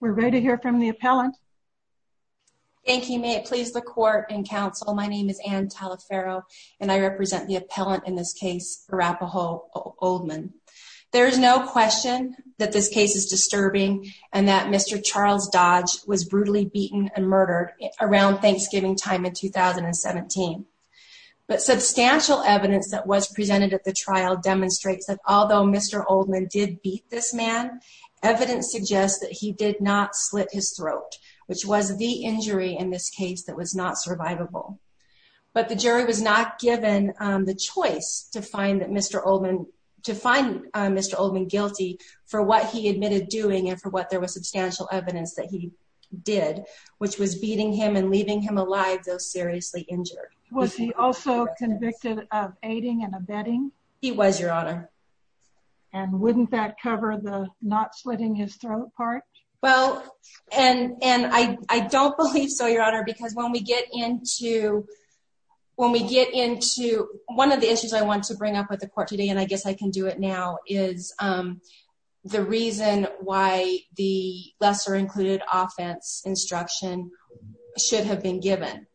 We're ready to hear from the appellant. Thank you. May it please the court and counsel, my name is Anne Talaferro and I represent the appellant in this case, Arapahoe Oldman. There is no question that this case is disturbing and that Mr. Charles Dodge was brutally beaten and murdered around Thanksgiving time in 2017. But substantial evidence that was presented at the trial demonstrates that although Mr. Oldman did beat this man, evidence suggests that he did not slit his throat, which was the injury in this case that was not survivable. But the jury was not given the choice to find Mr. Oldman guilty for what he admitted doing and for what there was substantial evidence that he did, which was beating him and leaving him alive though seriously injured. Was he also convicted of aiding and abetting? He was, your honor. And wouldn't that cover the not slitting his throat part? Well, and I don't believe so, your honor, because when we get into one of the issues I want to bring up with the court today, and I guess I can do it now, is the reason why the lesser included offense instruction should have been given.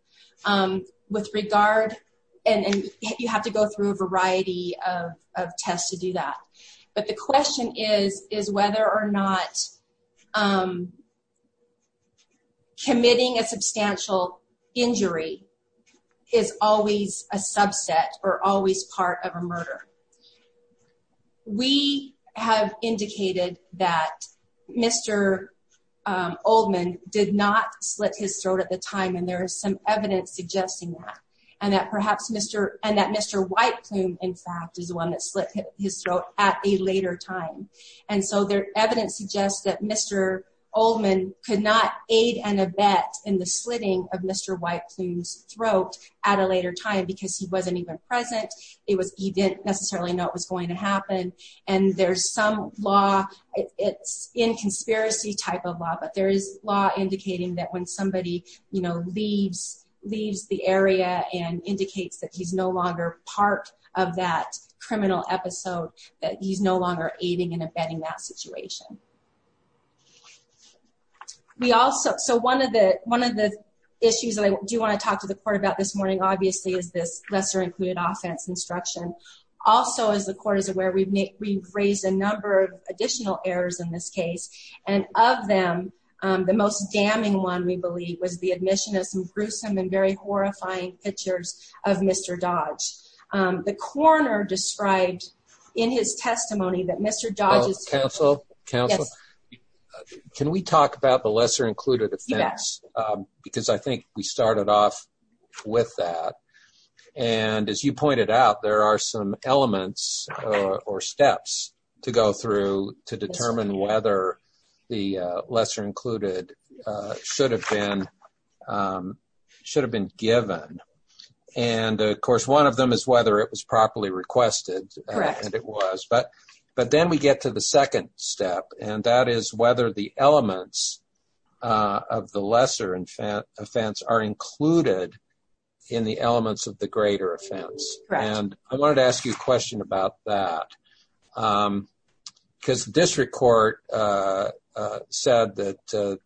With regard, and you have to go through a variety of tests to do that, but the question is whether or not committing a substantial injury is always a subset or always part of a murder. We have indicated that Mr. Oldman did not slit his throat at the time, and there is some evidence suggesting that, and that perhaps Mr. White Plume, in fact, is the one that slit his throat at a later time. And so there evidence suggests that Mr. Oldman could not aid and abet in the slitting of Mr. White Plume's throat at a later time because he wasn't even present. He didn't necessarily know it was going to happen. And there's some law, it's in conspiracy type of law, but there is law indicating that when somebody leaves the area and indicates that he's no longer part of that criminal episode, that he's no longer aiding and abetting that situation. We also, so one of the issues that I do want to talk to the court about this morning, obviously, is this lesser included offense instruction. Also, as the court is aware, we've raised a number of we believe was the admission of some gruesome and very horrifying pictures of Mr. Dodge. The coroner described in his testimony that Mr. Dodge's- Counsel, counsel, can we talk about the lesser included offense? Because I think we started off with that. And as you pointed out, there are some elements or steps to go through to determine whether the lesser included should have been given. And of course, one of them is whether it was properly requested, and it was. But then we get to the second step, and that is whether the elements of the lesser offense are included in the elements of the greater offense. And I wanted to ask you a question about that. Because the district court said that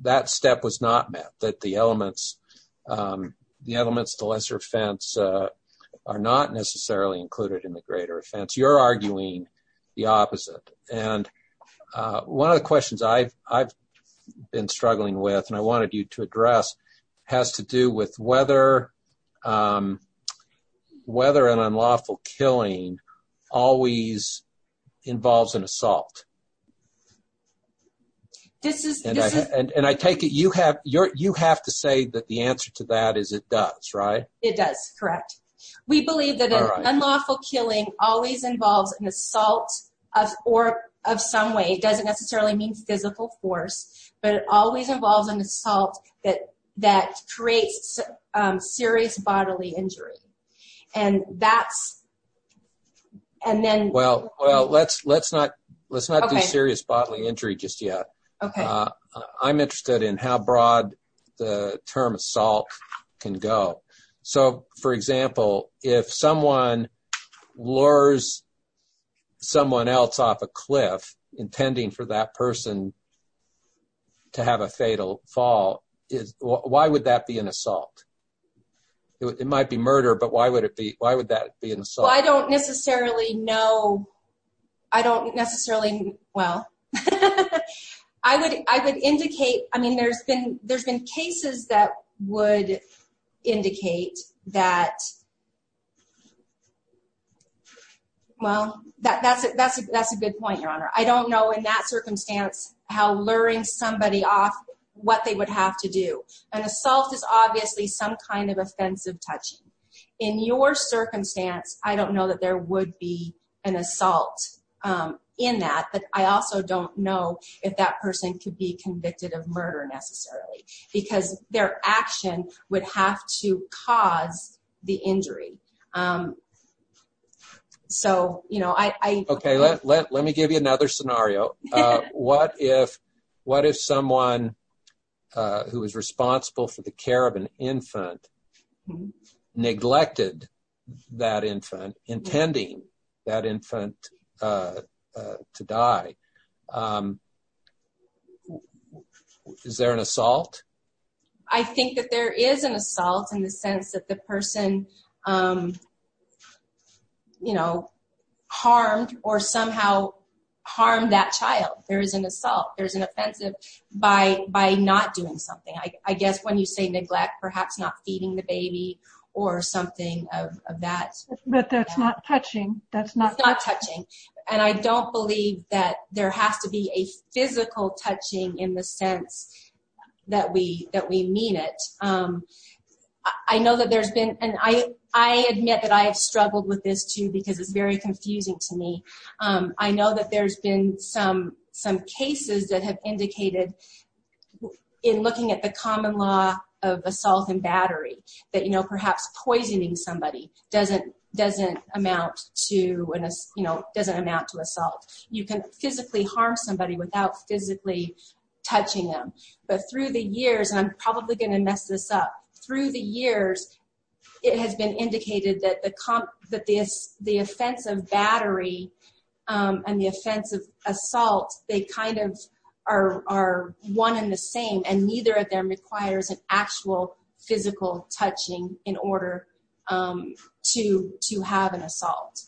that step was not met, that the elements of the lesser offense are not necessarily included in the greater offense. You're arguing the opposite. And one of the questions I've been struggling with, and I wanted you to address, has to do with whether an unlawful killing always involves an assault. And I take it you have to say that the answer to that is it does, right? It does, correct. We believe that an unlawful killing always involves an assault or of some way. It doesn't necessarily mean physical force, but it always involves an assault that creates serious bodily injury. And that's... And then... Well, let's not do serious bodily injury just yet. I'm interested in how broad the term assault can go. So for example, if someone lures someone else off a cliff intending for that person to have a fatal fall, why would that be an assault? It might be murder, but why would that be an assault? Well, I don't necessarily know. I don't necessarily... Well, I would indicate... I mean, there's been cases that would indicate that... Well, that's a good point, Your Honor. I don't know in that circumstance how luring somebody off what they would have to do. An assault is obviously some kind of offensive touching. In your circumstance, I don't know that there would be an assault in that, but I also don't know if that person could be convicted of murder necessarily, because their action would have to cause the injury. So I... Okay, let me give you another scenario. What if someone who was responsible for the care of an infant neglected that infant, intending that infant to die? Is there an assault? I think that there is an assault in the sense that the person harmed or somehow harmed that child. There is an assault. There's an offensive by not doing something. I guess when you say neglect, perhaps not feeding the baby or something of that... But that's not touching. That's not... It's not touching. And I don't believe that there has to be a physical touching in the sense that we mean it. I know that there's been... And I admit that I have struggled with this too, because it's very confusing to me. I know that there's been some cases that have indicated in looking at the common law of assault and battery, that perhaps poisoning somebody doesn't amount to assault. You can physically harm somebody without physically touching them. But through the years, and I'm probably going to mess this up, through the years, it has been indicated that the offensive battery and the offensive assault, they kind of are one and the same, and neither of them requires an actual physical touching in order to have an assault.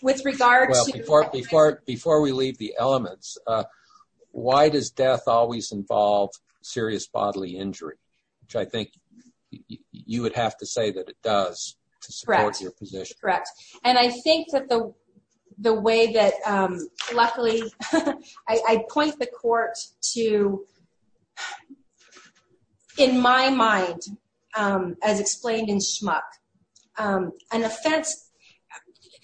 Well, before we leave the elements, why does death always involve serious bodily injury? Which I think you would have to say that it does to support your position. Correct. And I think that the way that... Luckily, I point the court to, in my mind, as explained in Schmuck, an offense...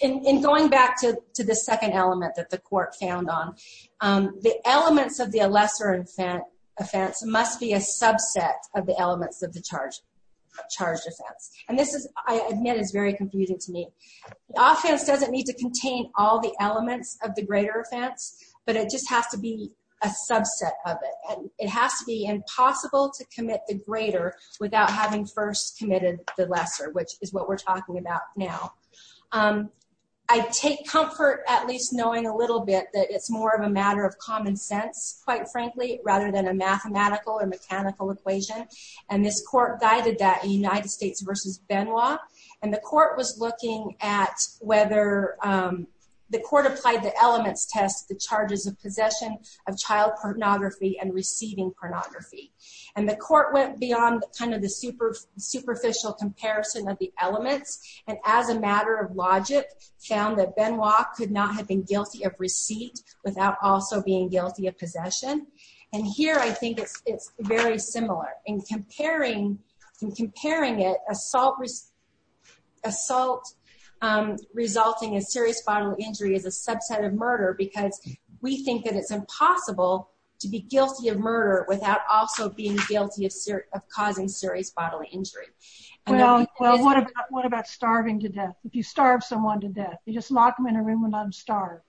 In going back to the second element that the court found on, the elements of the lesser offense must be a subset of the elements of the charged offense. And this, I admit, is very confusing to me. The offense doesn't need to contain all the elements of the greater offense, but it just has to be a subset of it. It has to be impossible to commit the greater without having first committed the lesser, which is what we're talking about now. I take comfort at least knowing a little bit that it's more of a matter of common sense, quite frankly, rather than a mathematical or mechanical equation. And this court guided that in United States versus Benoit. And the court was looking at whether... The court applied the elements test, the charges of possession of child pornography and receiving pornography. And the court went beyond the superficial comparison of the elements and as a matter of logic, found that Benoit could not have been guilty of receipt without also being very similar. In comparing it, assault resulting in serious bodily injury is a subset of murder because we think that it's impossible to be guilty of murder without also being guilty of causing serious bodily injury. Well, what about starving to death? If you starve someone to death, you just lock them in a room and let them starve.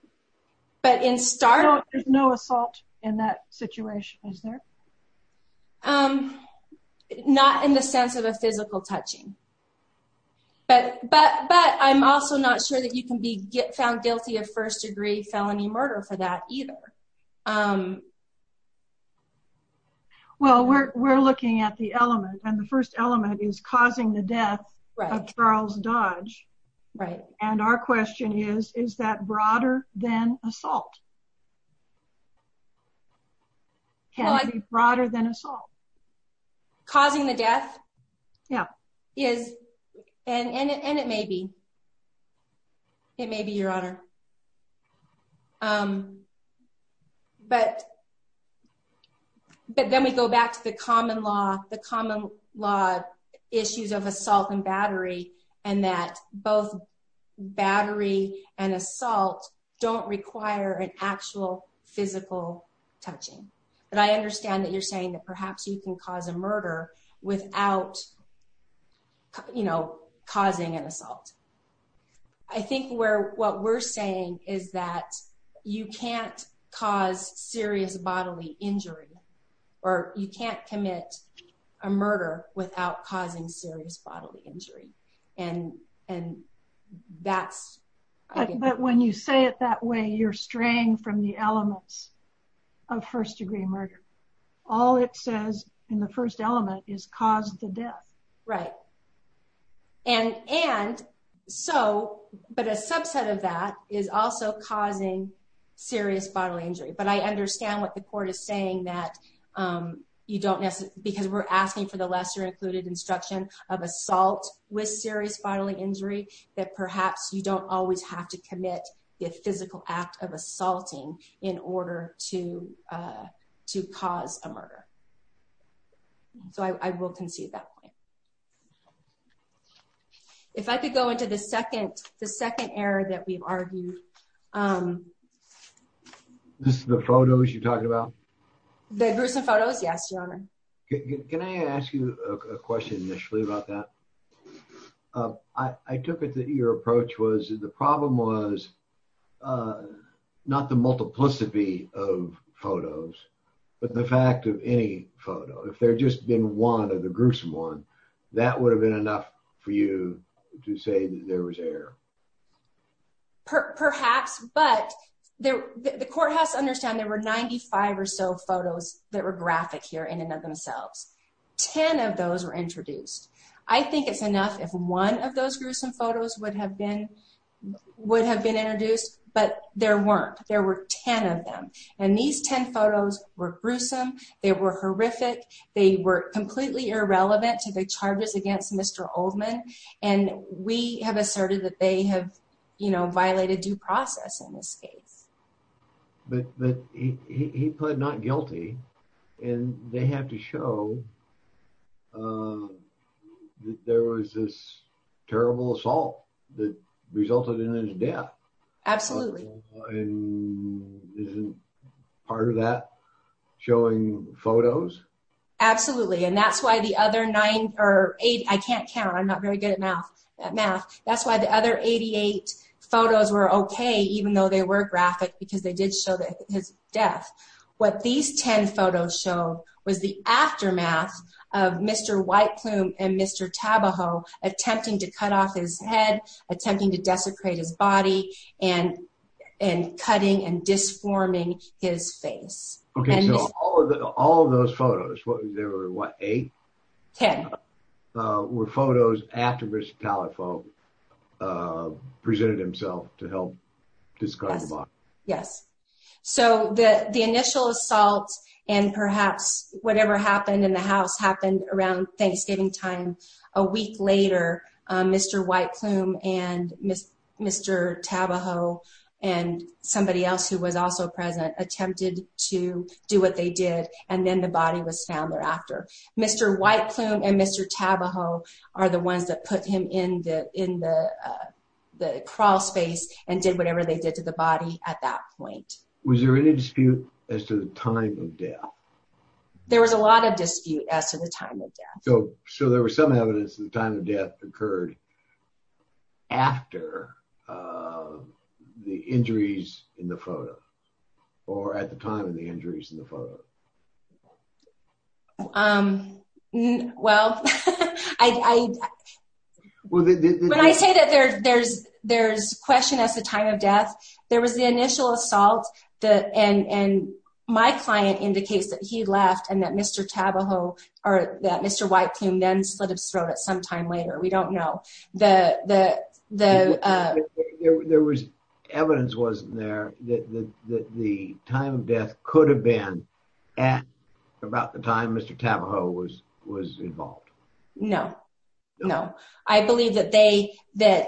But in starving... There's no assault in that situation, is there? Not in the sense of a physical touching. But I'm also not sure that you can be found guilty of first degree felony murder for that either. Well, we're looking at the element and the assault can be broader than assault. Causing the death? Yeah. And it may be. It may be, Your Honor. But then we go back to the common law issues of assault and battery, and that both battery and assault don't require an actual physical touching. But I understand that you're saying that perhaps you can cause a murder without causing an assault. I think what we're saying is that you can't cause serious bodily injury or you can't commit a murder without causing serious bodily injury. But when you say it that way, you're straying from the elements of first degree murder. All it says in the first element is cause the death. Right. But a subset of that is also causing serious bodily injury. But I understand what the court is saying that because we're asking for the lesser included instruction of assault with serious bodily injury, that perhaps you don't always have to commit the physical act of assaulting in order to cause a murder. So I will concede that point. If I could go into the second error that we've argued. This is the photos you're talking about? The gruesome photos? Yes, Your Honor. Can I ask you a question initially about that? I took it that your approach was the problem was not the multiplicity of photos, but the fact of any photo. If there had just been one of the gruesome one, that would have been enough for you to say that there was error. Perhaps. But the courthouse understand there were 95 or so photos that were graphic here in and of themselves. Ten of those were introduced. I think it's enough if one of those gruesome photos would have been would have been introduced. But there weren't. There were 10 of them. And these 10 photos were gruesome. They were horrific. They were completely irrelevant to the charges against Mr. Oldman. And we have asserted that they have, you know, violated due process in this case. But he pled not guilty. And they have to show that there was this terrible assault that resulted in his death. Absolutely. And isn't part of that showing photos? Absolutely. And that's why the other nine or eight. I can't count. I'm not very good at math. That's why the other 88 photos were okay, even though they were graphic, because they did show that his death. What these 10 photos show was the aftermath of Mr. White Plume and Mr. Tabajo attempting to cut off his head, attempting to desecrate his body, and cutting and disforming his face. Okay, so all of those photos, there were what, eight? Ten. Were photos after Mr. Tabajo presented himself to help discard the body? Yes. So the initial assault and perhaps whatever happened in the house happened around Thanksgiving time. A week later, Mr. White Plume and Mr. Tabajo and somebody else who was also present attempted to do what they did. And then the body was found thereafter. Mr. White Plume and Mr. Tabajo are the ones that put him in the crawl space and did whatever they did to the body at that point. Was there any dispute as to the time of death? There was a lot of dispute as to the time of death. So there was some evidence that the time of death occurred after the injuries in the photo, or at the time of the injuries in the photo. Well, when I say that there's question as to the time of death, there was the initial assault and my client indicates that he left and that Mr. Tabajo or that Mr. White Plume then sort of throw it sometime later. We don't know. There was evidence wasn't there that the time of death could have been at about the time Mr. Tabajo was involved? No, no. I believe that the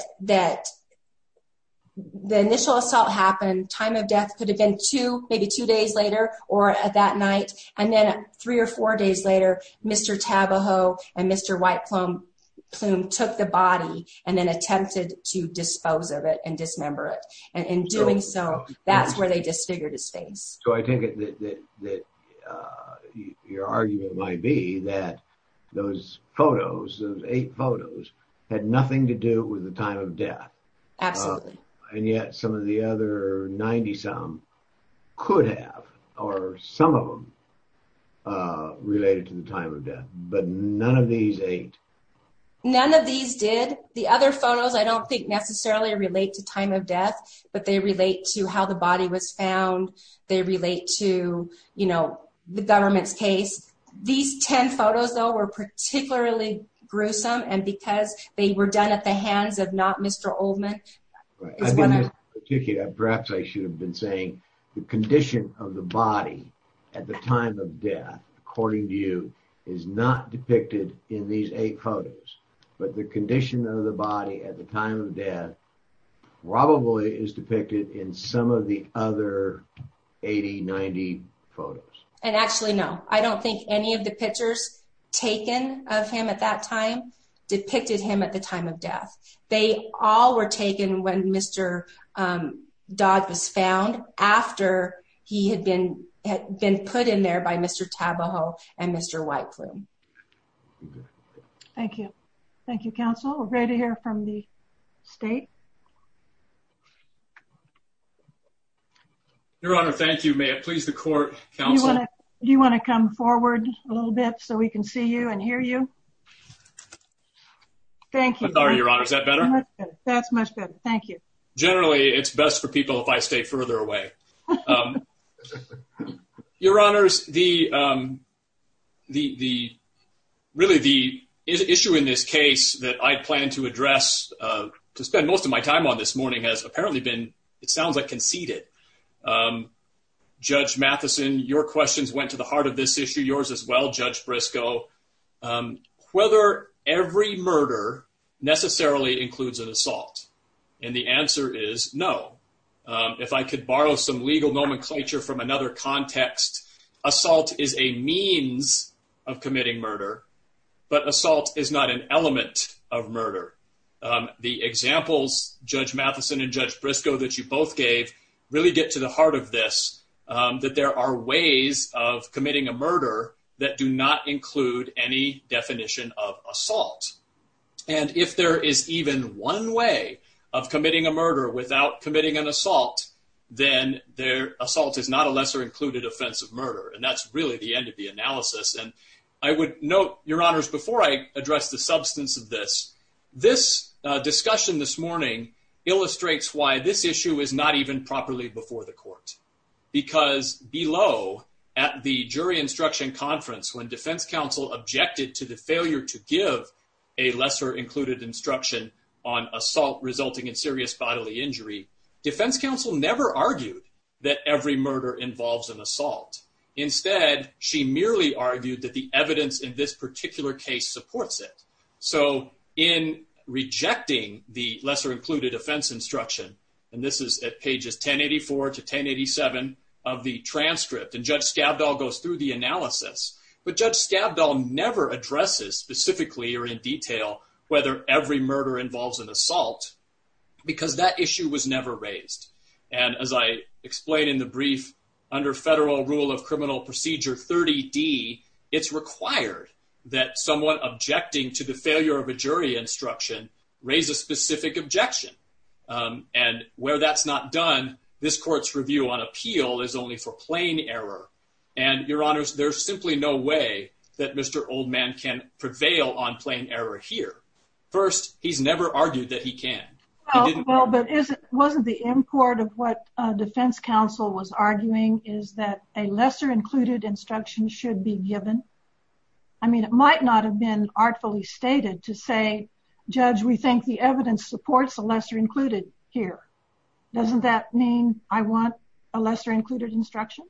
initial assault happened, time of death could have been at about the time of death. So I think that your argument might be that those photos, those eight photos, had nothing to do with the time of death. Absolutely. And yet some of the time of death, but none of these eight. None of these did. The other photos I don't think necessarily relate to time of death, but they relate to how the body was found. They relate to the government's case. These 10 photos though were particularly gruesome and because they were done at the hands of not Mr. Oldman. Perhaps I should have been saying the condition of the body at the is not depicted in these eight photos, but the condition of the body at the time of death probably is depicted in some of the other 80-90 photos. And actually no, I don't think any of the pictures taken of him at that time depicted him at the time of death. They all were taken when Mr. Dodd was found after he had been put in there by Mr. Tabajo and Mr. White Plume. Thank you. Thank you, counsel. We're ready to hear from the state. Your Honor, thank you. May it please the court, counsel? Do you want to come forward a little bit so we can see you and hear you? Thank you. I'm sorry, Your Honor. Is that better? That's much better. Thank you. Generally, it's best for people if I stay further away. Your Honors, really the issue in this case that I plan to address, to spend most of my time on this morning, has apparently been, it sounds like, conceded. Judge Matheson, your questions went to the heart of this issue. Yours as well, Judge Briscoe. Whether every murder necessarily includes an assault, and the answer is no. If I could borrow some legal nomenclature from another context, assault is a means of committing murder, but assault is not an element of murder. The examples, Judge Matheson and Judge Briscoe, that you both gave really get to the heart of this, that there are ways of committing a murder that do not include any definition of assault. If there is even one way of committing a murder without committing an assault, then assault is not a lesser included offense of murder. That's really the end of the analysis. I would note, Your Honors, before I address the substance of this, this discussion this morning illustrates why this issue is not even properly before the conference when defense counsel objected to the failure to give a lesser included instruction on assault resulting in serious bodily injury. Defense counsel never argued that every murder involves an assault. Instead, she merely argued that the evidence in this particular case supports it. In rejecting the lesser included offense instruction, and this is at pages 1084 to 1087 of the transcript, and Judge Skavdal goes through the analysis, but Judge Skavdal never addresses specifically or in detail whether every murder involves an assault because that issue was never raised. As I explained in the brief, under federal rule of criminal procedure 30D, it's required that someone objecting to the failure of a jury instruction raise a specific objection. And where that's not done, this court's review on appeal is only for plain error. And, Your Honors, there's simply no way that Mr. Oldman can prevail on plain error here. First, he's never argued that he can. Well, but wasn't the import of what defense counsel was arguing is that a lesser included instruction should be given? I mean, it might not have been artfully stated to say, Judge, we think the evidence supports a lesser included here. Doesn't that mean I want a lesser included instruction?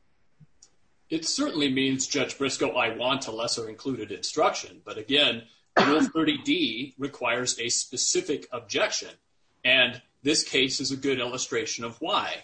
It certainly means, Judge Briscoe, I want a lesser included instruction. But again, rule 30D requires a specific objection, and this case is a good illustration of why.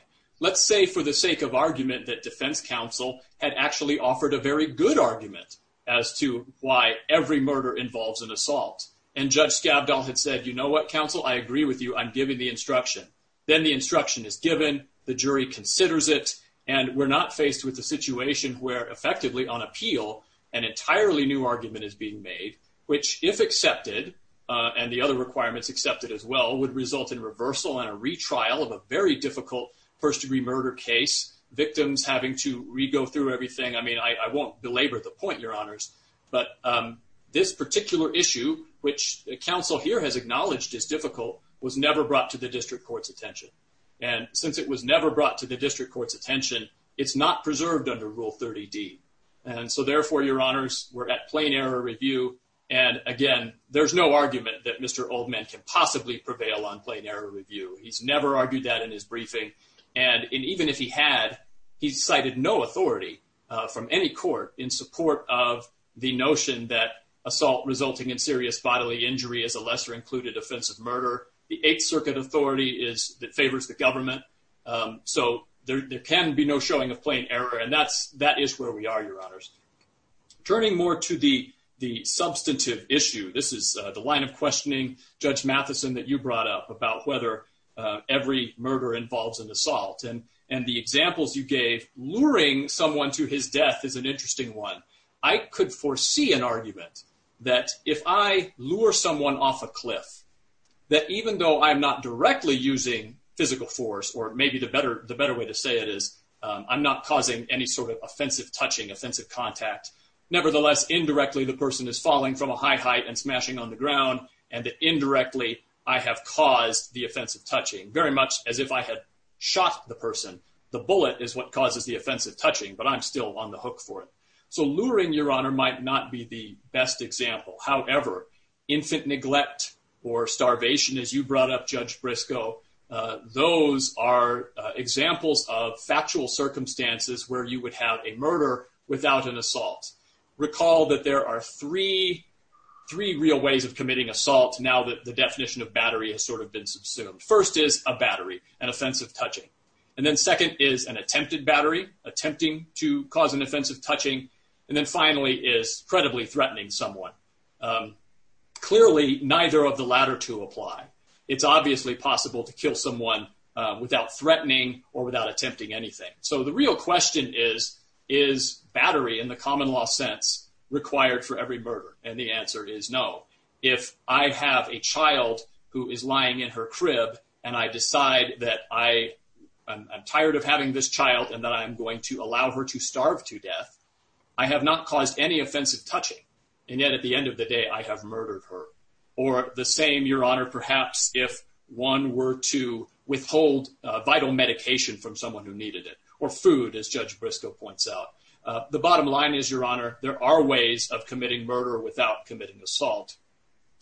Let's say for the sake of argument that defense counsel had actually offered a very good argument as to why every murder involves an assault. And Judge Scavdall had said, you know what, counsel, I agree with you. I'm giving the instruction. Then the instruction is given, the jury considers it, and we're not faced with a situation where effectively on appeal an entirely new argument is being made, which if accepted, and the other requirements accepted as well, would result in reversal and a retrial of a very difficult first-degree murder case, victims having to re-go through everything. I mean, I won't belabor the point, Your Honors, but this particular issue, which counsel here has acknowledged is difficult, was never brought to the district court's attention. And since it was never brought to the district court's attention, it's not preserved under Rule 30D. And so therefore, Your Honors, we're at plain error review. And again, there's no argument that Mr. Oldman can possibly prevail on plain error review. He's never argued that in his briefing. And even if he had, he cited no authority from any court in support of the notion that assault resulting in serious bodily injury is a lesser-included offensive murder. The Eighth Circuit authority is that favors the government. So there can be no showing of plain error. And that is where we are, Your Honors. Turning more to the substantive issue, this is the line of questioning, Judge Matheson, that you brought up about whether every murder involves an assault. And the examples you gave, luring someone to his death is an interesting one. I could foresee an argument that if I lure someone off a cliff, that even though I'm not directly using physical force, or maybe the better way to say it is, I'm not causing any sort of offensive touching, offensive contact. Nevertheless, indirectly, the person is falling from a high height and smashing on the ground, and indirectly, I have caused the offensive touching, very much as if I had shot the person. The bullet is what causes the offensive touching, but I'm still on the hook for it. So luring, Your Honor, might not be the best example. However, infant neglect or starvation, as you brought up, Judge Briscoe, those are examples of factual circumstances where you would have a murder without an assault. Recall that there are three real ways of committing assault now that the definition of battery has sort of been subsumed. First is a battery, an offensive touching. And then second is an attempted battery, attempting to cause an offensive touching. And then finally is credibly threatening someone. Clearly, neither of the latter two apply. It's obviously possible to kill someone without threatening or without attempting anything. So the real question is, is battery in the common law sense required for every murder? And the answer is no. If I have a child who is lying in her crib and I decide that I'm tired of having this child and that I'm going to allow her to starve to death, I have not caused any offensive touching. And yet at the end of the day, I have murdered her. Or the same, Your Honor, perhaps if one were to withhold vital medication from someone who needed it, or food, as Judge committing assault.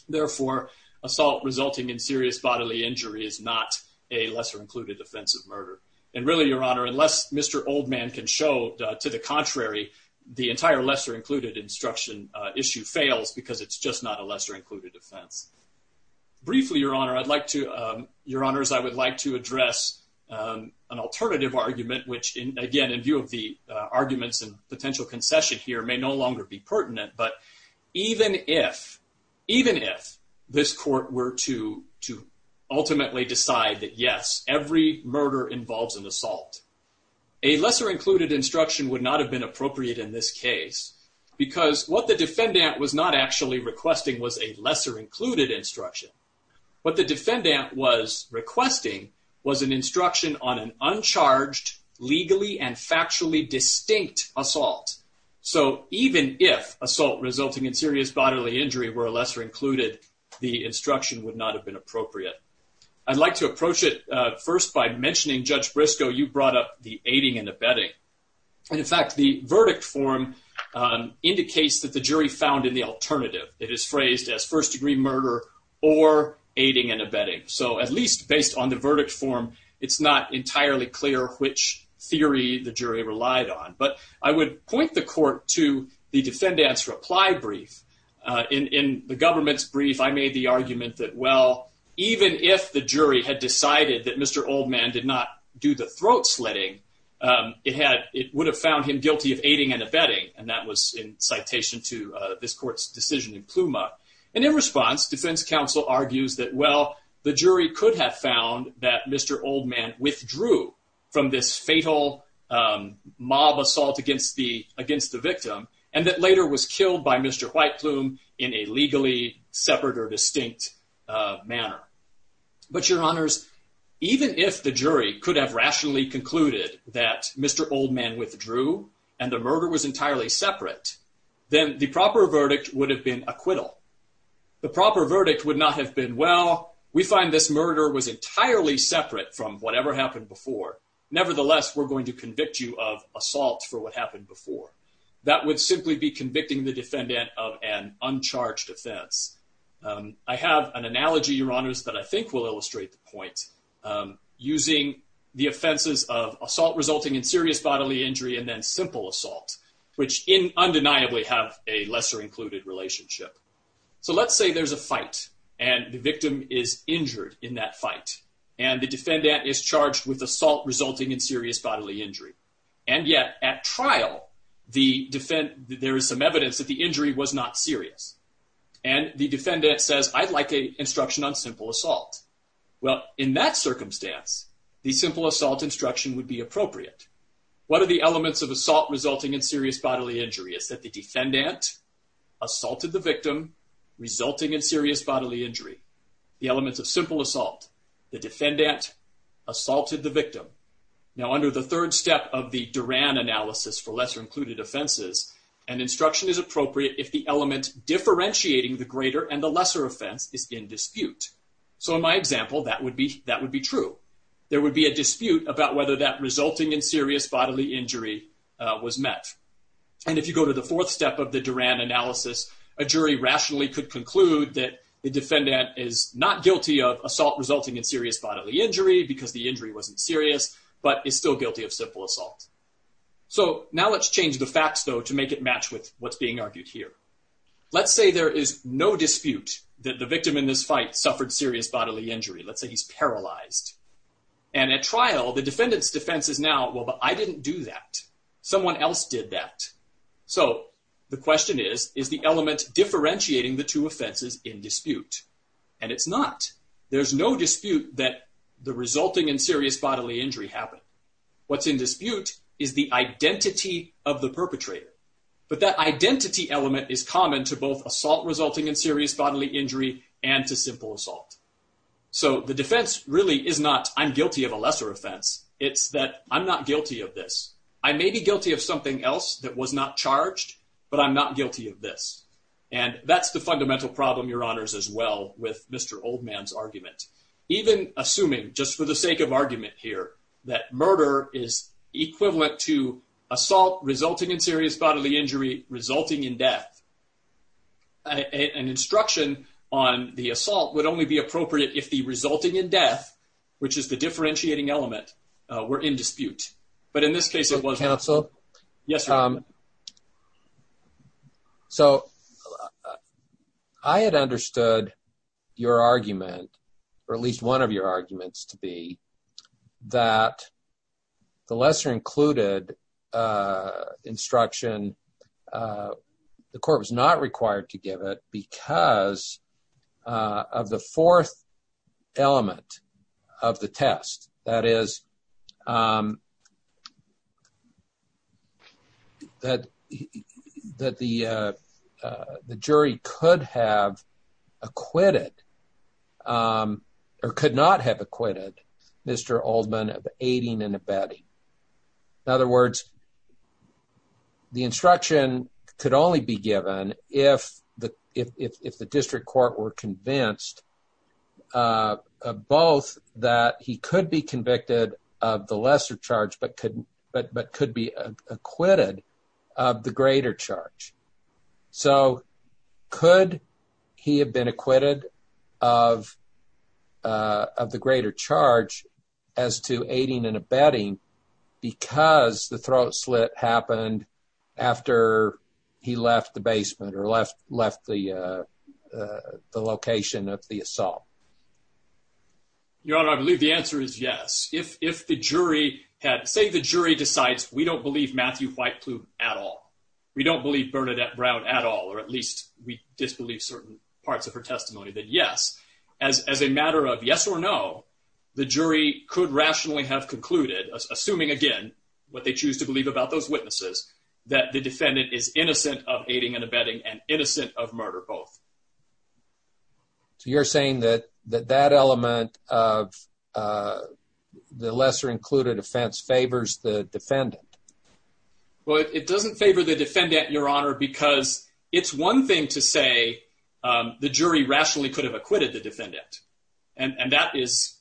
Therefore, assault resulting in serious bodily injury is not a lesser-included offensive murder. And really, Your Honor, unless Mr. Oldman can show to the contrary, the entire lesser-included instruction issue fails because it's just not a lesser-included offense. Briefly, Your Honor, I'd like to, Your Honors, I would like to address an alternative argument, which, again, in view of the arguments and potential concession here, may no longer be acceptable. Even if, even if this court were to, to ultimately decide that yes, every murder involves an assault, a lesser-included instruction would not have been appropriate in this case because what the defendant was not actually requesting was a lesser-included instruction. What the defendant was requesting was an instruction on an uncharged, legally and bodily injury where a lesser-included instruction would not have been appropriate. I'd like to approach it first by mentioning, Judge Briscoe, you brought up the aiding and abetting. And in fact, the verdict form indicates that the jury found in the alternative. It is phrased as first-degree murder or aiding and abetting. So at least based on the verdict form, it's not entirely clear which theory the jury relied on. But I would point the court to the defendant's reply brief. In the government's brief, I made the argument that, well, even if the jury had decided that Mr. Oldman did not do the throat-slitting, it had, it would have found him guilty of aiding and abetting. And that was in citation to this court's decision in Pluma. And in response, defense counsel argues that, well, the jury could have found that Mr. Oldman withdrew from this fatal mob assault against the victim and that later was killed by Mr. Whiteplume in a legally separate or distinct manner. But, Your Honors, even if the jury could have rationally concluded that Mr. Oldman withdrew and the murder was entirely separate, then the proper verdict would have been acquittal. The proper verdict would not have been, well, we find this happened before. Nevertheless, we're going to convict you of assault for what happened before. That would simply be convicting the defendant of an uncharged offense. I have an analogy, Your Honors, that I think will illustrate the point. Using the offenses of assault resulting in serious bodily injury and then simple assault, which undeniably have a lesser-included relationship. So let's say there's a fight and the victim is injured in that fight and the defendant is charged with assault resulting in serious bodily injury. And yet, at trial, there is some evidence that the injury was not serious. And the defendant says, I'd like a instruction on simple assault. Well, in that circumstance, the simple assault instruction would be appropriate. What are elements of assault resulting in serious bodily injury? Is that the defendant assaulted the victim, resulting in serious bodily injury? The elements of simple assault, the defendant assaulted the victim. Now, under the third step of the Duran analysis for lesser-included offenses, an instruction is appropriate if the element differentiating the greater and the lesser offense is in dispute. So in my example, that would be true. There would be a dispute about whether that resulting in serious bodily injury was met. And if you go to the fourth step of the Duran analysis, a jury rationally could conclude that the defendant is not guilty of assault resulting in serious bodily injury because the injury wasn't serious, but is still guilty of simple assault. So now let's change the facts, though, to make it match with what's being argued here. Let's say there is no dispute that the victim in this fight suffered serious bodily injury. Let's say he's paralyzed. And at trial, the defendant's defense is now, well, but I didn't do that. Someone else did that. So the question is, is the element differentiating the two offenses in dispute? And it's not. There's no dispute that the resulting in serious bodily injury happened. What's in dispute is the identity of the perpetrator. But that identity element is So the defense really is not, I'm guilty of a lesser offense. It's that I'm not guilty of this. I may be guilty of something else that was not charged, but I'm not guilty of this. And that's the fundamental problem, Your Honors, as well with Mr. Oldman's argument. Even assuming, just for the sake of argument here, that murder is equivalent to assault resulting in serious bodily injury resulting in death. An instruction on the assault would only be appropriate if the resulting in death, which is the differentiating element, were in dispute. But in this case, it wasn't. Counsel? Yes. So I had understood your argument, or at least one of your arguments to be, that the lesser included instruction, the court was not required to give it because of the fourth element of the test. That is that the jury could have acquitted, or could not have acquitted, Mr. Oldman of aiding and abetting. In other words, the instruction could only be given if the district court were convinced both that he could be convicted of the lesser charge but could be acquitted of the greater because the throat slit happened after he left the basement or left the location of the assault. Your Honor, I believe the answer is yes. If the jury had, say the jury decides we don't believe Matthew White Plume at all, we don't believe Bernadette Brown at all, or at least we disbelieve certain parts of her testimony, then yes. As a matter of yes or no, the jury could rationally have concluded, assuming again what they choose to believe about those witnesses, that the defendant is innocent of aiding and abetting and innocent of murder both. So you're saying that that element of the lesser included offense favors the defendant? Well, it doesn't favor the defendant, Your Honor, because it's one thing to say the jury rationally could have acquitted the defendant. And that's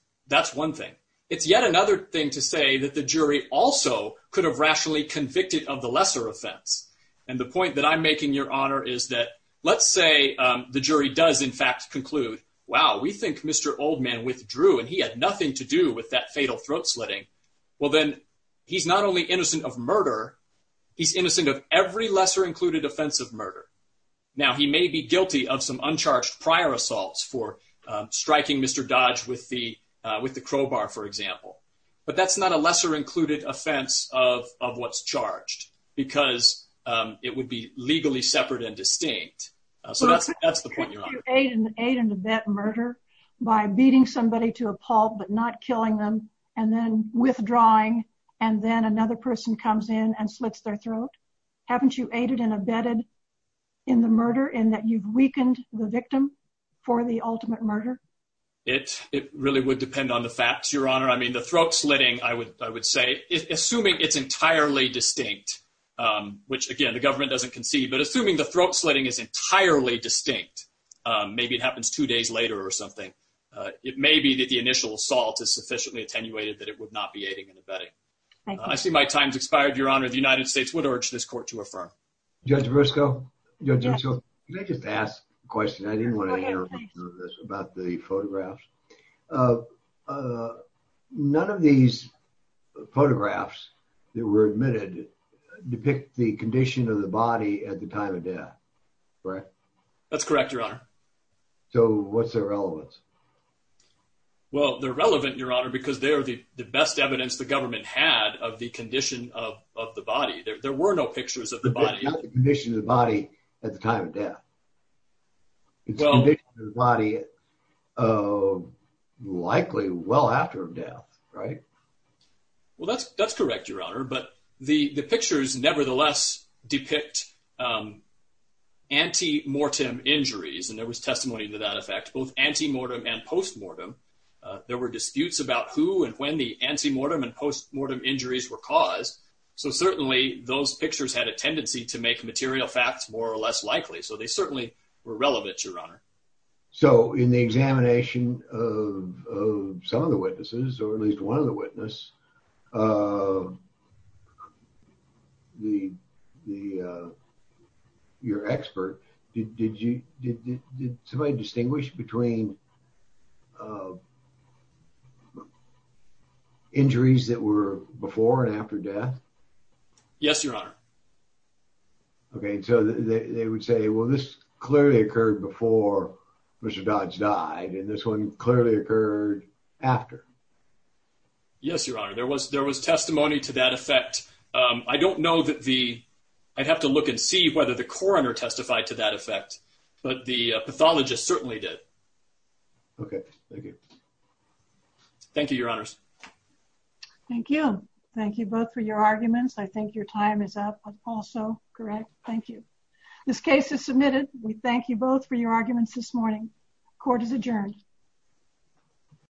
one thing. It's yet another thing to say that the jury also could have rationally convicted of the lesser offense. And the point that I'm making, Your Honor, is that let's say the jury does in fact conclude, wow, we think Mr. Oldman withdrew and he had nothing to do with that fatal throat slitting. Well, then he's not only innocent of murder, he's innocent of every lesser included offense of murder. Now, he may be guilty of some for striking Mr. Dodge with the crowbar, for example. But that's not a lesser included offense of what's charged, because it would be legally separate and distinct. So that's the point, Your Honor. Couldn't you aid and abet murder by beating somebody to a pulp but not killing them and then withdrawing, and then another person comes in and slits their throat? Haven't you aided and abetted in the murder in that you've weakened the victim for the ultimate murder? It really would depend on the facts, Your Honor. I mean, the throat slitting, I would say, assuming it's entirely distinct, which again, the government doesn't concede, but assuming the throat slitting is entirely distinct, maybe it happens two days later or something, it may be that the initial assault is sufficiently attenuated that it would not be aiding and abetting. I see my time's expired, Your Honor. The United States would urge this court to affirm. Judge Briscoe? Judge Briscoe, can I just ask a question? I didn't want to interrupt about the photographs. None of these photographs that were admitted depict the condition of the body at the time of death, correct? That's correct, Your Honor. So what's their relevance? Well, they're relevant, Your Honor, because they're the best evidence the government had of the condition of the body. There were no pictures of the body. It's not the condition of the body at the time of death. It's the condition of the body likely well after death, right? Well, that's correct, Your Honor, but the pictures nevertheless depict anti-mortem injuries, and there was testimony to that effect, both anti-mortem and post-mortem. There were disputes about who and when the anti-mortem and post-mortem injuries were caused, so certainly those pictures had a tendency to make material facts more or less likely, so they certainly were relevant, Your Honor. So in the examination of some of the witnesses, or at least one of the witnesses, your expert, did somebody distinguish between injuries that were before and after death? Yes, Your Honor. Okay, so they would say, well, this clearly occurred before Mr. Dodge died, and this one clearly occurred after. Yes, Your Honor. There was testimony to that effect. I don't know that the, I'd have to look and see whether the coroner testified to that effect, but the pathologist certainly did. Okay, thank you. Thank you, Your Honors. Thank you. Thank you both for your arguments. I think your time is up also, correct? Thank you. This case is submitted. We thank you both for your arguments this morning. Court is adjourned.